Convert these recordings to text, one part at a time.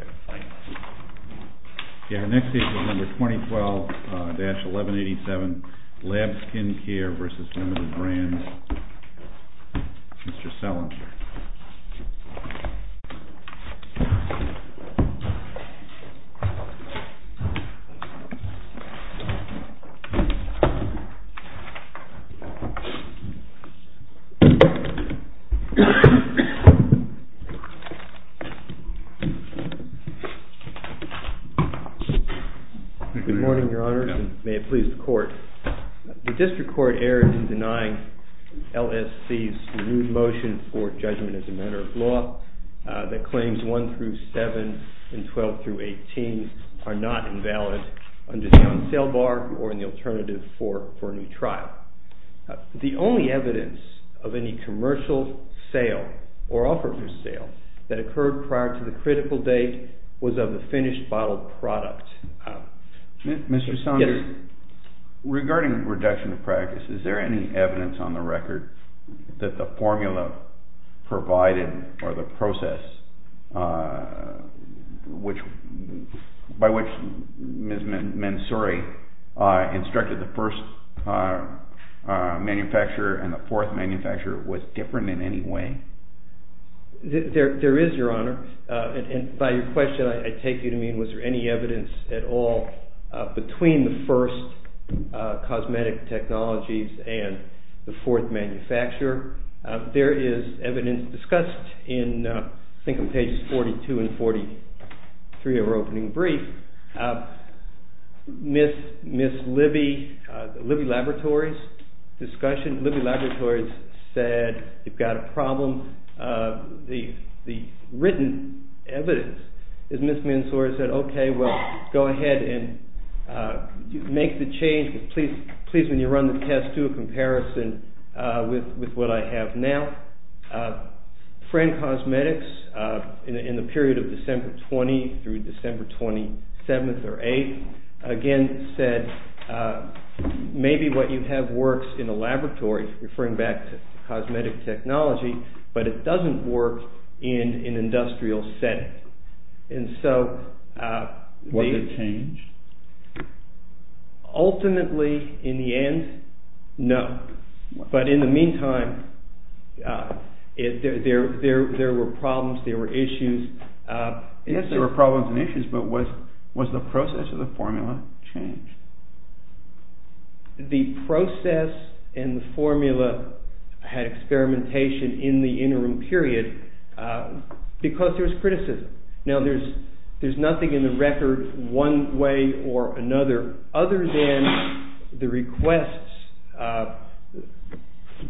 Mr. Sellinger. Good morning, Your Honors, and may it please the Court. The District Court erred in denying LSC's new motion for judgment as a matter of law that claims 1 through 7 and 12 through 18 are not invalid under the old sale bar or in the alternative for a new trial. The only evidence of any commercial sale or offer for sale that occurred prior to the critical date was of the finished bottled product. Mr. Sellinger, regarding reduction of practice, is there any evidence on the record that the formula provided or the process by which Ms. Mansouri instructed the first manufacturer and the fourth manufacturer was different in any way? There is, Your Honor, and by your question I take you to mean was there any evidence at all between the first cosmetic technologies and the fourth manufacturer. There is evidence discussed in I think on pages 42 and 43 of our opening brief. Ms. Libby, Libby Laboratories' discussion, Libby Laboratories said you've got a problem. The written evidence is Ms. Mansouri said, okay, well, go ahead and make the change, but please when you run the test do a comparison with what I have now. Frank Cosmetics in the period of December 20 through December 27 or 8 again said maybe what you have works in a laboratory, referring back to cosmetic technology, but it doesn't work in an industrial setting. Was there change? Ultimately, in the end, no, but in the meantime, there were problems, there were issues. Yes, there were problems and issues, but was the process of the formula changed? The process and the formula had experimentation in the interim period because there was criticism. Now, there's nothing in the record one way or another other than the requests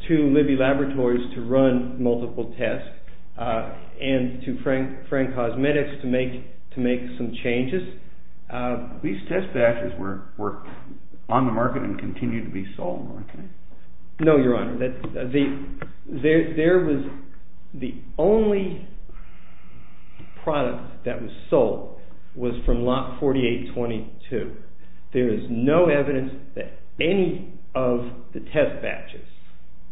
to Libby Laboratories to run multiple tests and to Frank Cosmetics to make some changes. These test batches were on the market and continue to be sold, okay? No, Your Honor. There was the only product that was sold was from lot 4822. There is no evidence that any of the test batches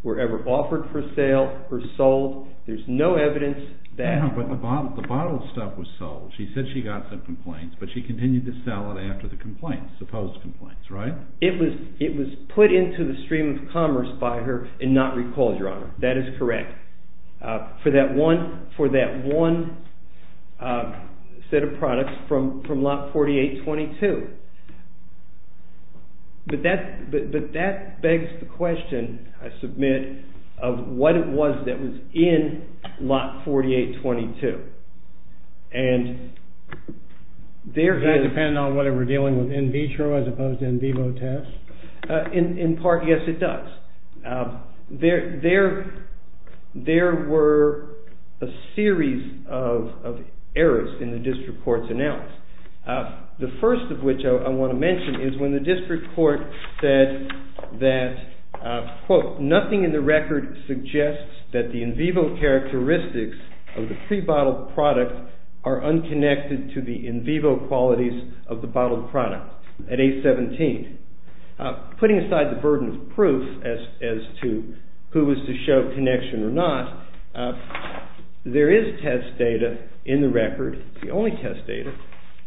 were ever offered for sale or sold. There's no evidence that… Yeah, but the bottle stuff was sold. She said she got some complaints, but she continued to sell it after the complaints, supposed complaints, right? It was put into the stream of commerce by her and not recalled, Your Honor. That is correct, for that one set of products from lot 4822. But that begs the question, I submit, of what it was that was in lot 4822. Does that depend on whether we're dealing with in vitro as opposed to in vivo tests? In part, yes, it does. There were a series of errors in the district court's analysis. The first of which I want to mention is when the district court said that, quote, nothing in the record suggests that the in vivo characteristics of the pre-bottled product are unconnected to the in vivo qualities of the bottled product at age 17. Putting aside the burden of proof as to who was to show connection or not, there is test data in the record, it's the only test data,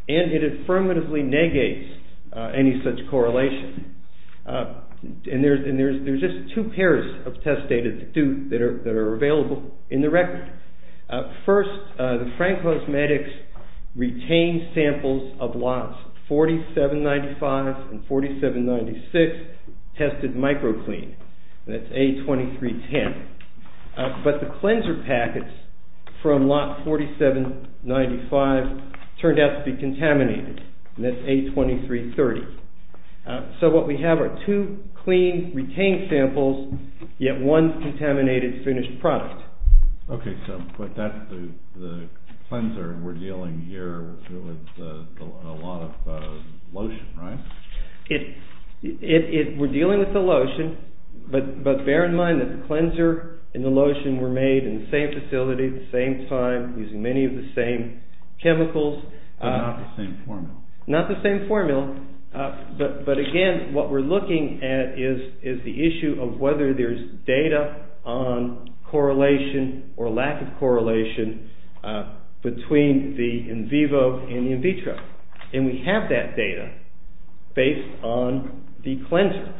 and it affirmatively negates any such correlation. And there's just two pairs of test data that are available in the record. First, the Frank Hose Medics retained samples of lots 4795 and 4796 tested micro-clean, that's A2310. But the cleanser packets from lot 4795 turned out to be contaminated, and that's A2330. So what we have are two clean retained samples, yet one contaminated finished product. Okay, so, but that's the cleanser, and we're dealing here with a lot of lotion, right? We're dealing with the lotion, but bear in mind that the cleanser and the lotion were made in the same facility, the same time, using many of the same chemicals. But not the same formula. Not the same formula. But again, what we're looking at is the issue of whether there's data on correlation or lack of correlation between the in vivo and the in vitro. And we have that data based on the cleanser.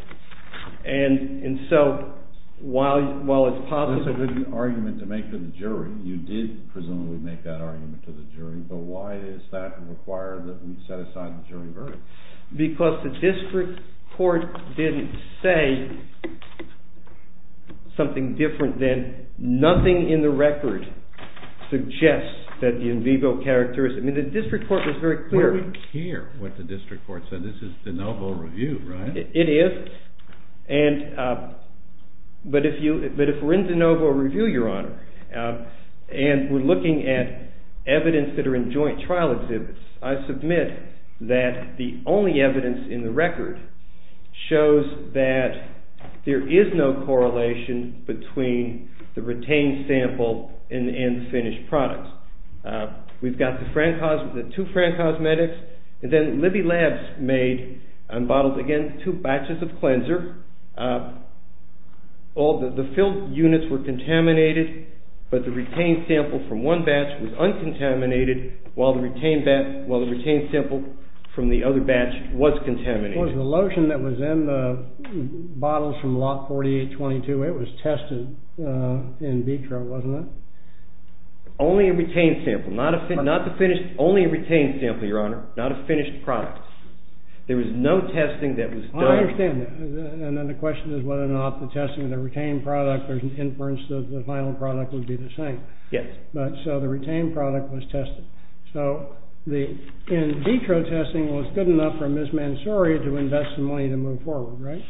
And so, while it's possible... There's an argument to make to the jury. You did, presumably, make that argument to the jury. But why does that require that we set aside the jury verdict? Because the district court didn't say something different than, nothing in the record suggests that the in vivo characteristic... I mean, the district court was very clear... We don't care what the district court said. This is de novo review, right? It is, but if we're in de novo review, Your Honor, and we're looking at evidence that are in joint trial exhibits, I submit that the only evidence in the record shows that there is no correlation between the retained sample and the finished product. We've got the two Francosmetics, and then Libby Labs made, and bottled again, two batches of cleanser. All the filled units were contaminated, but the retained sample from one batch was uncontaminated, while the retained sample from the other batch was contaminated. Was the lotion that was in the bottles from lot 4822, it was tested in vitro, wasn't it? Only a retained sample, Your Honor, not a finished product. There was no testing that was done... I understand that. And then the question is whether or not the testing of the retained product or the inference of the final product would be the same. Yes. So the retained product was tested. So the in vitro testing was good enough for Ms. Mansouri to invest the money to move forward, right?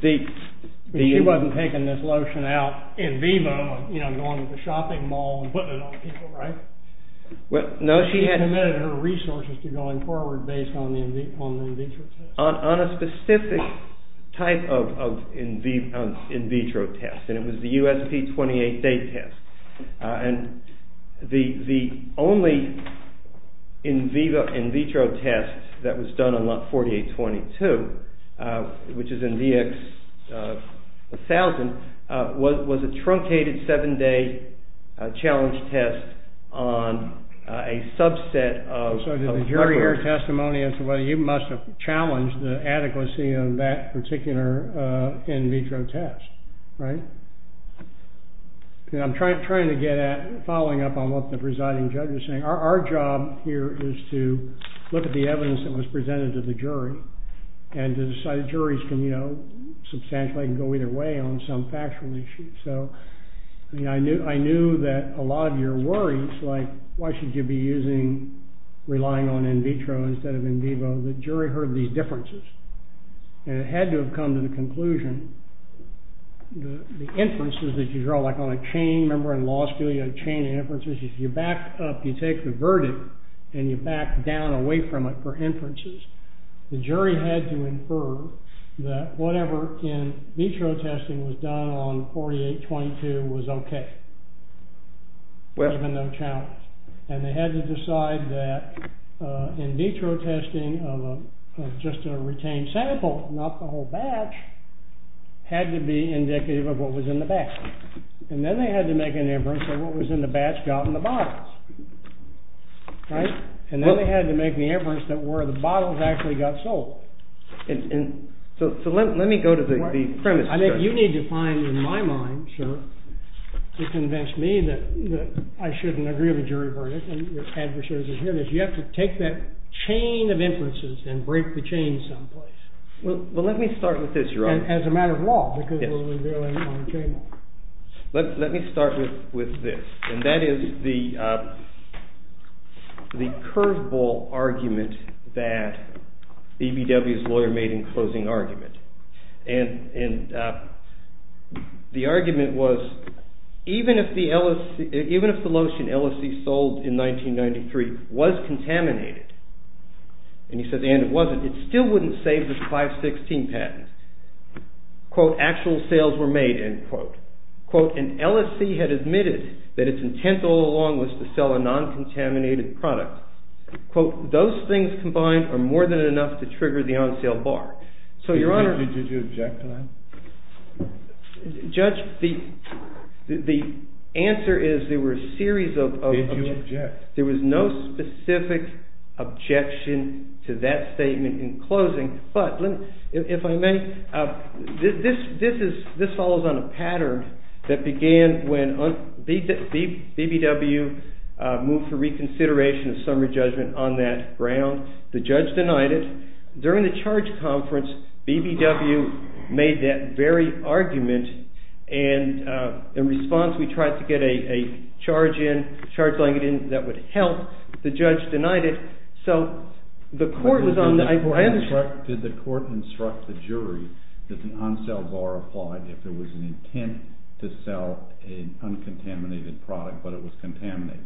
She wasn't taking this lotion out in vivo and going to the shopping mall and putting it on people, right? No, she had... She committed her resources to going forward based on the in vitro test. On a specific type of in vitro test, and it was the USP28 day test. And the only in vivo in vitro test that was done on lot 4822, which is in VX1000, was a truncated seven-day challenge test on a subset of... So did the jury hear testimony as to whether you must have challenged the adequacy of that particular in vitro test, right? I'm trying to get at, following up on what the presiding judge was saying, our job here is to look at the evidence that was presented to the jury and to decide if juries can, you know, substantially, can go either way on some factual issue. So I knew that a lot of your worries, like, why should you be using, relying on in vitro instead of in vivo, the jury heard these differences. And it had to have come to the conclusion, the inferences that you draw, like on a chain, remember in law school, you have a chain of inferences. If you back up, you take the verdict, and you back down away from it for inferences, the jury had to infer that whatever in vitro testing was done on 4822 was okay. There had been no challenge. And they had to decide that in vitro testing of just a retained sample, not the whole batch, had to be indicative of what was in the batch. And then they had to make an inference of what was in the batch got in the bottles. Right? And then they had to make the inference that where the bottles actually got sold. So let me go to the premise. I think you need to find, in my mind, sir, to convince me that I shouldn't agree with a jury verdict, and your adversaries are hearing this, you have to take that chain of inferences and break the chain someplace. Well, let me start with this, Your Honor. As a matter of law, because we'll be doing it on the table. Let me start with this. And that is the curveball argument that EBW's lawyer made in closing argument. And the argument was, even if the lotion LSC sold in 1993 was contaminated, and he says, and it wasn't, it still wouldn't save the 516 patents. Quote, actual sales were made, end quote. Quote, an LSC had admitted that its intent all along was to sell a non-contaminated product. Quote, those things combined are more than enough to trigger the on-sale bar. So, Your Honor. Did you object to that? Judge, the answer is there were a series of. Did you object? There was no specific objection to that statement in closing. But, if I may, this follows on a pattern that began when EBW moved for reconsideration of summary judgment on that ground. The judge denied it. During the charge conference, EBW made that very argument. And in response, we tried to get a charge in, charge language in that would help. The judge denied it. Did the court instruct the jury that the on-sale bar applied if there was an intent to sell an uncontaminated product, but it was contaminated?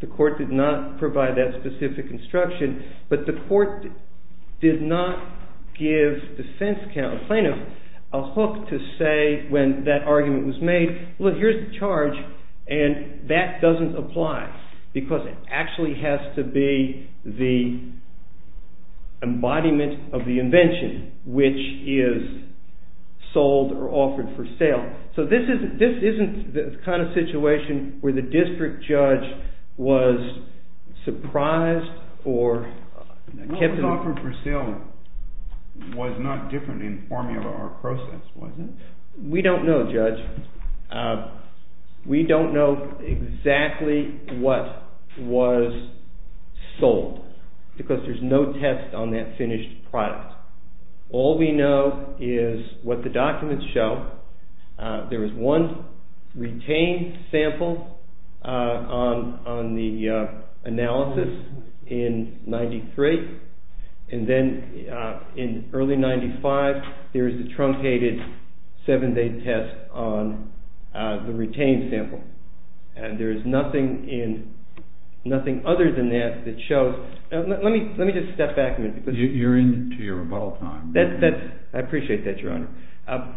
The court did not provide that specific instruction. But the court did not give defense counsel, plaintiff, a hook to say when that argument was made, look, here's the charge, and that doesn't apply. Because it actually has to be the embodiment of the invention, which is sold or offered for sale. So this isn't the kind of situation where the district judge was surprised or kept in... What was offered for sale was not different in formula or process, was it? We don't know, Judge. We don't know exactly what was sold because there's no test on that finished product. All we know is what the documents show. There was one retained sample on the analysis in 93. And then in early 95, there's the truncated seven-day test on the retained sample. And there's nothing other than that that shows. Let me just step back a minute. You're into your rebuttal time. I appreciate that, Your Honor.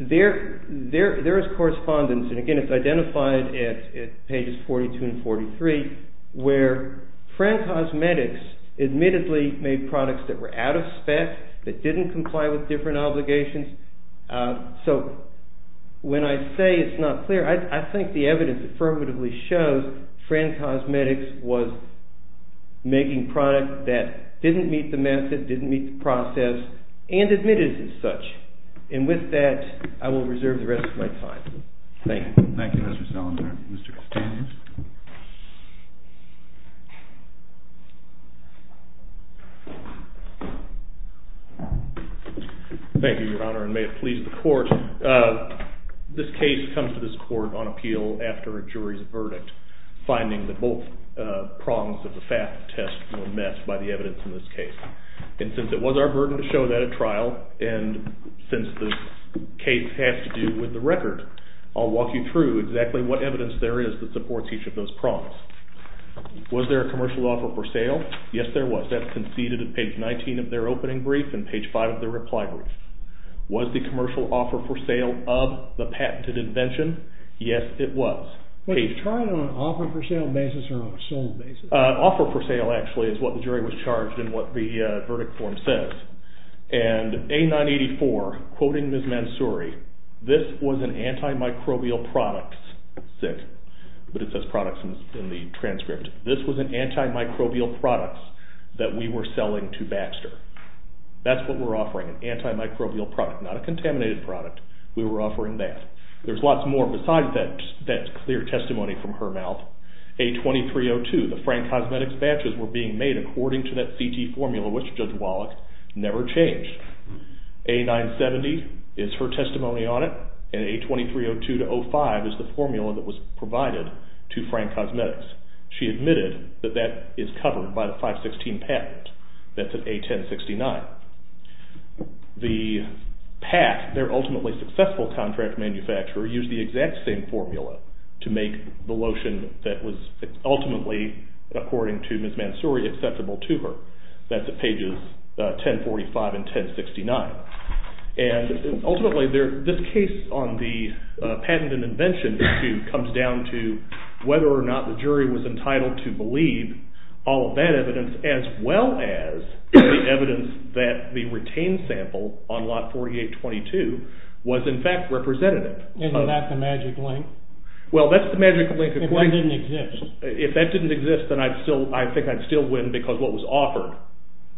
There is correspondence, and again, it's identified at pages 42 and 43, where Fran Cosmetics admittedly made products that were out of spec, that didn't comply with different obligations. So when I say it's not clear, I think the evidence affirmatively shows Fran Cosmetics was making products that didn't meet the method, didn't meet the process, and admitted as such. And with that, I will reserve the rest of my time. Thank you. Thank you, Mr. Salazar. Mr. Castanheiros? Thank you, Your Honor, and may it please the court. This case comes to this court on appeal after a jury's verdict, finding that both prongs of the FAP test were met by the evidence in this case. And since it was our burden to show that at trial, and since this case has to do with the record, I'll walk you through exactly what evidence there is that supports each of those prongs. Was there a commercial offer for sale? Yes, there was. That's conceded at page 19 of their opening brief and page 5 of their reply brief. Was the commercial offer for sale of the patented invention? Yes, it was. Was the trial on an offer for sale basis or on a sold basis? An offer for sale, actually, is what the jury was charged in what the verdict form says. And A984, quoting Ms. Mansouri, this was an antimicrobial products, but it says products in the transcript. This was an antimicrobial products that we were selling to Baxter. That's what we're offering, an antimicrobial product, not a contaminated product. We were offering that. There's lots more besides that clear testimony from her mouth. A2302, the Frank Cosmetics batches were being made according to that CT formula, which Judge Wallach never changed. A970 is her testimony on it, and A2302-05 is the formula that was provided to Frank Cosmetics. She admitted that that is covered by the 516 patent. That's at A1069. The pack, their ultimately successful contract manufacturer, used the exact same formula to make the lotion that was ultimately, according to Ms. Mansouri, acceptable to her. That's at pages 1045 and 1069. Ultimately, this case on the patent and invention issue comes down to whether or not the jury was entitled to believe all of that evidence, as well as the evidence that the retained sample on Lot 4822 was in fact representative. Isn't that the magic link? Well, that's the magic link. If that didn't exist. If that didn't exist, then I think I'd still win because what was offered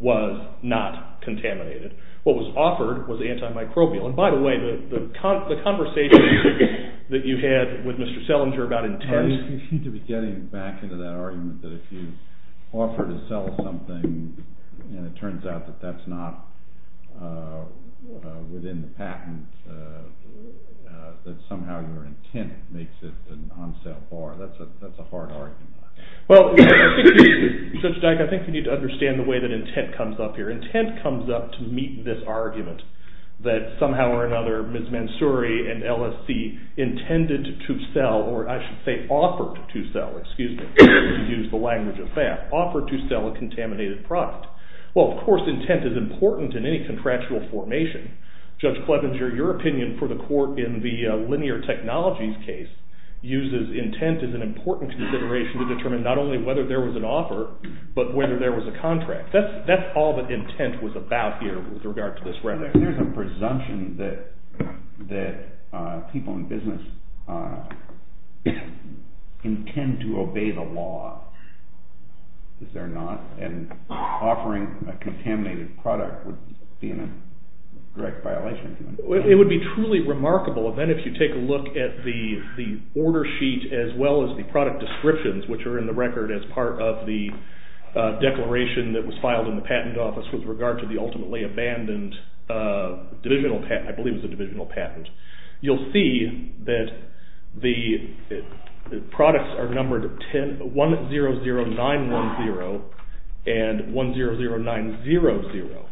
was not contaminated. What was offered was antimicrobial. And by the way, the conversation that you had with Mr. Selinger about intent— You seem to be getting back into that argument that if you offer to sell something and it turns out that that's not within the patent, that somehow your intent makes it an on-sale bar. That's a hard argument. Well, Judge Dyke, I think you need to understand the way that intent comes up here. Intent comes up to meet this argument that somehow or another Ms. Mansouri and LSC intended to sell, or I should say offered to sell, excuse me, to use the language of that, offered to sell a contaminated product. Well, of course intent is important in any contractual formation. Judge Clevenger, your opinion for the court in the linear technologies case uses intent as an important consideration to determine not only whether there was an offer, but whether there was a contract. That's all that intent was about here with regard to this record. There's a presumption that people in business intend to obey the law. Is there not? And offering a contaminated product would be a direct violation. It would be truly remarkable then if you take a look at the order sheet as well as the product descriptions which are in the record as part of the declaration that was filed in the patent office with regard to the ultimately abandoned divisional patent, I believe it was a divisional patent. You'll see that the products are numbered 100910 and 100900.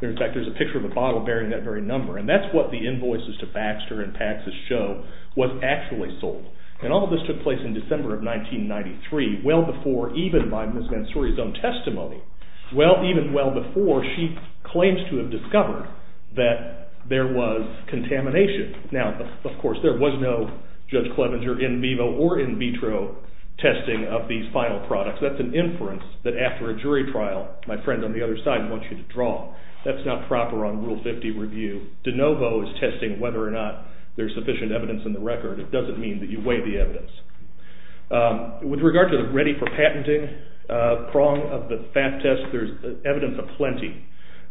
In fact, there's a picture of a bottle bearing that very number, and that's what the invoices to Baxter and Paxsus show was actually sold. And all of this took place in December of 1993, well before even by Ms. Mansouri's own testimony, well even well before she claims to have discovered that there was contamination. Now, of course, there was no Judge Clevenger in vivo or in vitro testing of these final products. That's an inference that after a jury trial, my friend on the other side wants you to draw. That's not proper on Rule 50 review. De novo is testing whether or not there's sufficient evidence in the record. With regard to the ready for patenting prong of the FAP test, there's evidence aplenty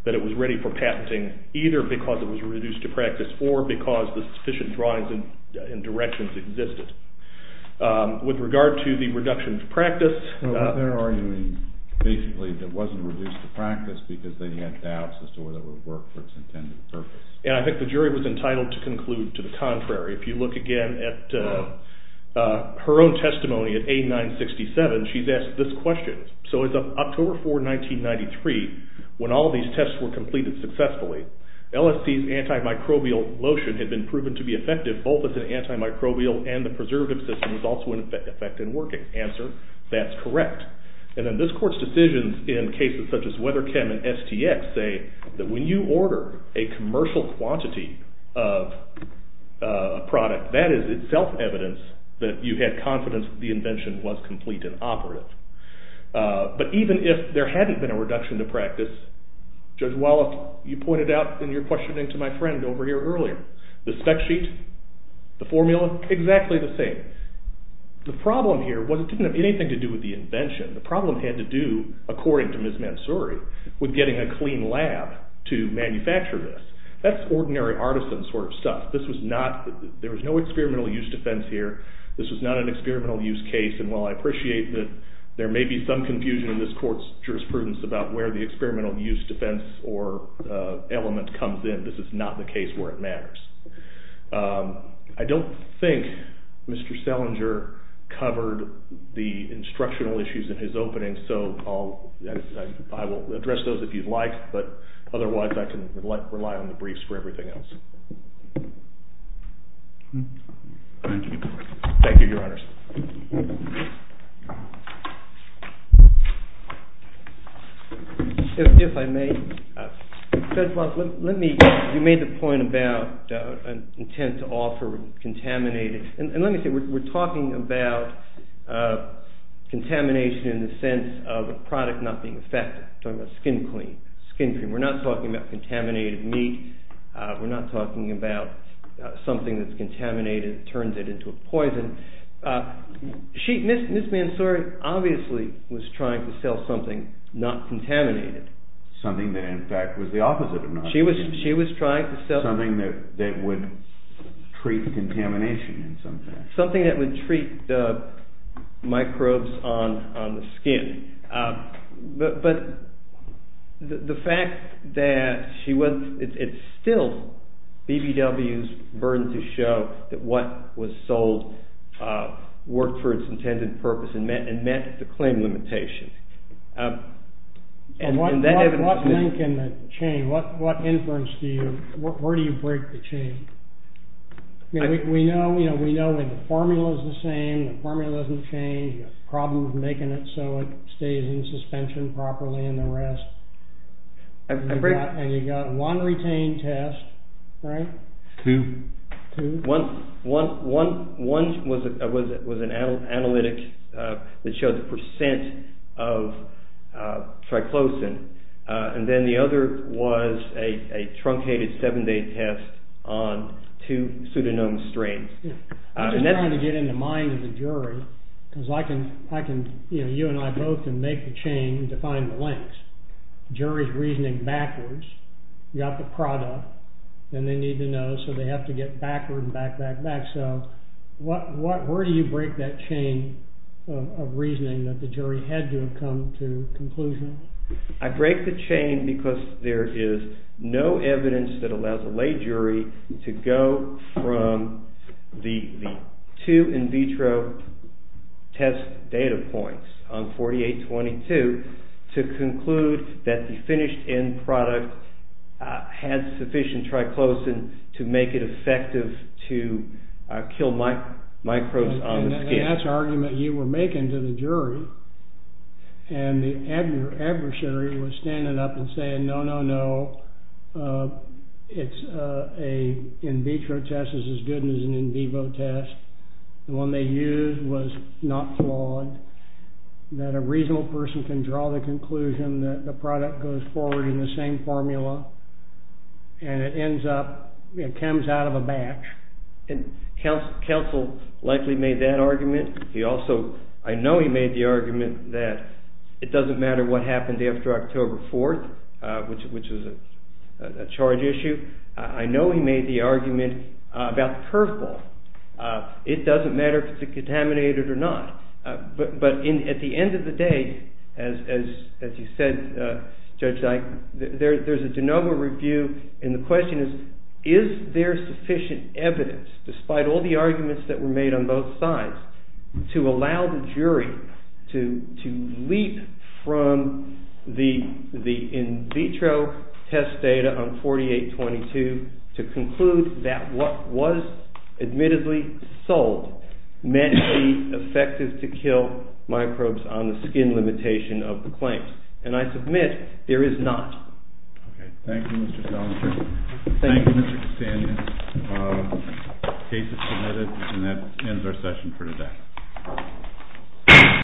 that it was ready for patenting either because it was reduced to practice or because the sufficient drawings and directions existed. With regard to the reduction to practice… They're arguing basically that it wasn't reduced to practice because they had doubts as to whether it would work for its intended purpose. And I think the jury was entitled to conclude to the contrary. If you look again at her own testimony at A-967, she's asked this question. So it's October 4, 1993 when all these tests were completed successfully. LST's antimicrobial lotion had been proven to be effective both as an antimicrobial and the preservative system was also in effect and working. Answer, that's correct. And then this court's decisions in cases such as Weatherchem and STX say that when you order a commercial quantity of a product, that is itself evidence that you had confidence that the invention was complete and operative. But even if there hadn't been a reduction to practice, Judge Wallach, you pointed out in your questioning to my friend over here earlier, the spec sheet, the formula, exactly the same. The problem here was it didn't have anything to do with the invention. The problem had to do, according to Ms. Mansouri, with getting a clean lab to manufacture this. That's ordinary artisan sort of stuff. There was no experimental use defense here. This was not an experimental use case. And while I appreciate that there may be some confusion in this court's jurisprudence about where the experimental use defense or element comes in, this is not the case where it matters. I don't think Mr. Selinger covered the instructional issues in his opening, so I will address those if you'd like. But otherwise, I can rely on the briefs for everything else. Thank you, Your Honors. If I may, Judge Wallach, let me – you made the point about an intent to offer contaminated – and let me say, we're talking about contamination in the sense of a product not being effective. We're talking about skin clean, skin cream. We're not talking about contaminated meat. We're not talking about something that's contaminated that turns it into a poison. Ms. Mansouri obviously was trying to sell something not contaminated. Something that, in fact, was the opposite of not contaminated. She was trying to sell – Something that would treat the contamination in some sense. But the fact that she was – it's still BBW's burden to show that what was sold worked for its intended purpose and met the claim limitation. What link in the chain? What inference do you – where do you break the chain? We know the formula is the same. The formula doesn't change. The problem is making it so it stays in suspension properly and the rest. And you got one retained test, right? Two. Two? One was an analytic that showed the percent of triclosan. And then the other was a truncated seven-day test on two pseudonymous strains. I'm just trying to get in the mind of the jury because I can – you know, you and I both can make the chain and define the links. Jury's reasoning backwards. You got the product and they need to know, so they have to get backward and back, back, back. So what – where do you break that chain of reasoning that the jury had to have come to a conclusion? I break the chain because there is no evidence that allows a lay jury to go from the two in vitro test data points on 4822 to conclude that the finished end product had sufficient triclosan to make it effective to kill microbes on the skin. And that's an argument you were making to the jury. And the adversary was standing up and saying, no, no, no, it's a – in vitro test is as good as an in vivo test. The one they used was not flawed, that a reasonable person can draw the conclusion that the product goes forward in the same formula and it ends up – it comes out of a batch. And counsel likely made that argument. He also – I know he made the argument that it doesn't matter what happened after October 4th, which was a charge issue. I know he made the argument about the curve ball. It doesn't matter if it's contaminated or not. But at the end of the day, as you said, Judge Dyke, there's a de novo review, and the question is, is there sufficient evidence, despite all the arguments that were made on both sides, to allow the jury to leap from the in vitro test data on 4822 to conclude that what was admittedly sold meant to be effective to kill microbes. And I submit, there is not. Thank you, Mr. Selinger. Thank you, Mr. Castaneda. The case is submitted, and that ends our session for today.